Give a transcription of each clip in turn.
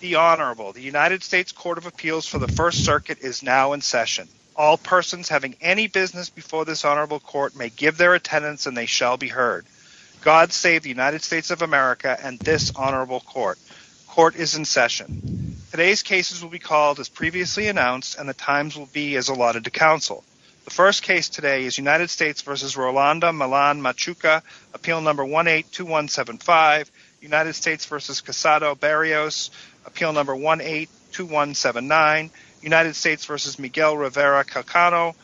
The Honorable, the United States Court of Appeals for the First Circuit is now in session. All persons having any business before this Honorable Court may give their attendance and they shall be heard. God save the United States of America and this Honorable Court. Court is in session. Today's cases will be called as previously announced and the times will be as allotted to counsel. The first case today is United States v. Rolanda-Millan-Machuca, Appeal No. 182175, United States v. Quesado-Barrios, Appeal No. 182179, United States v. Miguel Rivera-Calcano,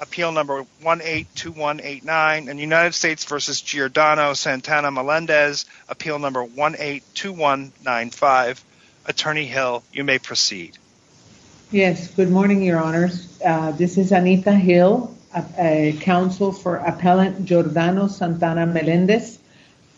Appeal No. 182189, United States v. Giordano-Santana-Melendez, Appeal No. 182195. Attorney Hill, you may proceed. Yes, good morning, Your Honors. This is Anita Hill, counsel for Appellant Giordano-Santana-Melendez.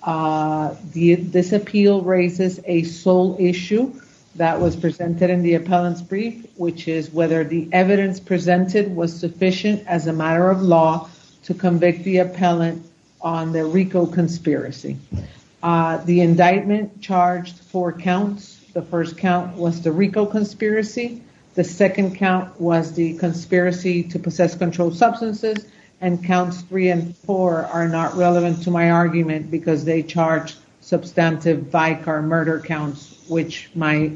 This appeal raises a sole issue that was presented in the appellant's brief, which is whether the evidence presented was sufficient as a matter of law to convict the appellant on the RICO conspiracy. The indictment charged four counts. The first count was the RICO conspiracy, the second count was the conspiracy to possess controlled substances, and counts three and four are not relevant to my argument because they charge substantive Vicar murder counts, which my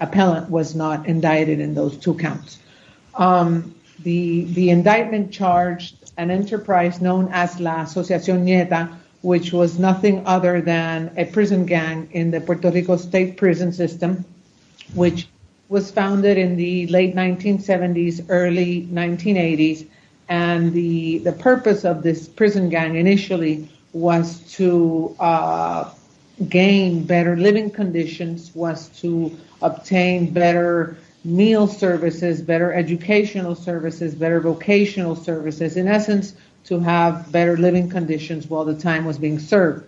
appellant was not indicted in those two counts. The indictment charged an enterprise known as La Asociación Nieta, which was nothing other than a prison gang in the Puerto Rico state prison system, which was founded in the late 1970s, early 1980s, and the purpose of this prison gang initially was to gain better living conditions, was to obtain better meal services, better living conditions while the time was being served.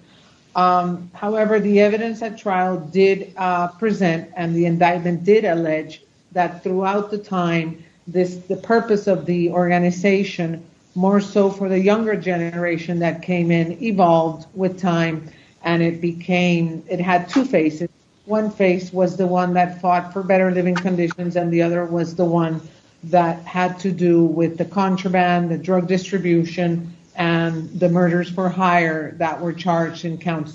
However, the evidence at trial did present, and the indictment did allege, that throughout the time, the purpose of the organization, more so for the younger generation that came in, evolved with time, and it had two faces. One face was the one that fought for better living conditions, and the other was the one that had to do with the contraband, the drug distribution, and the murders for hire that were charged in counts three.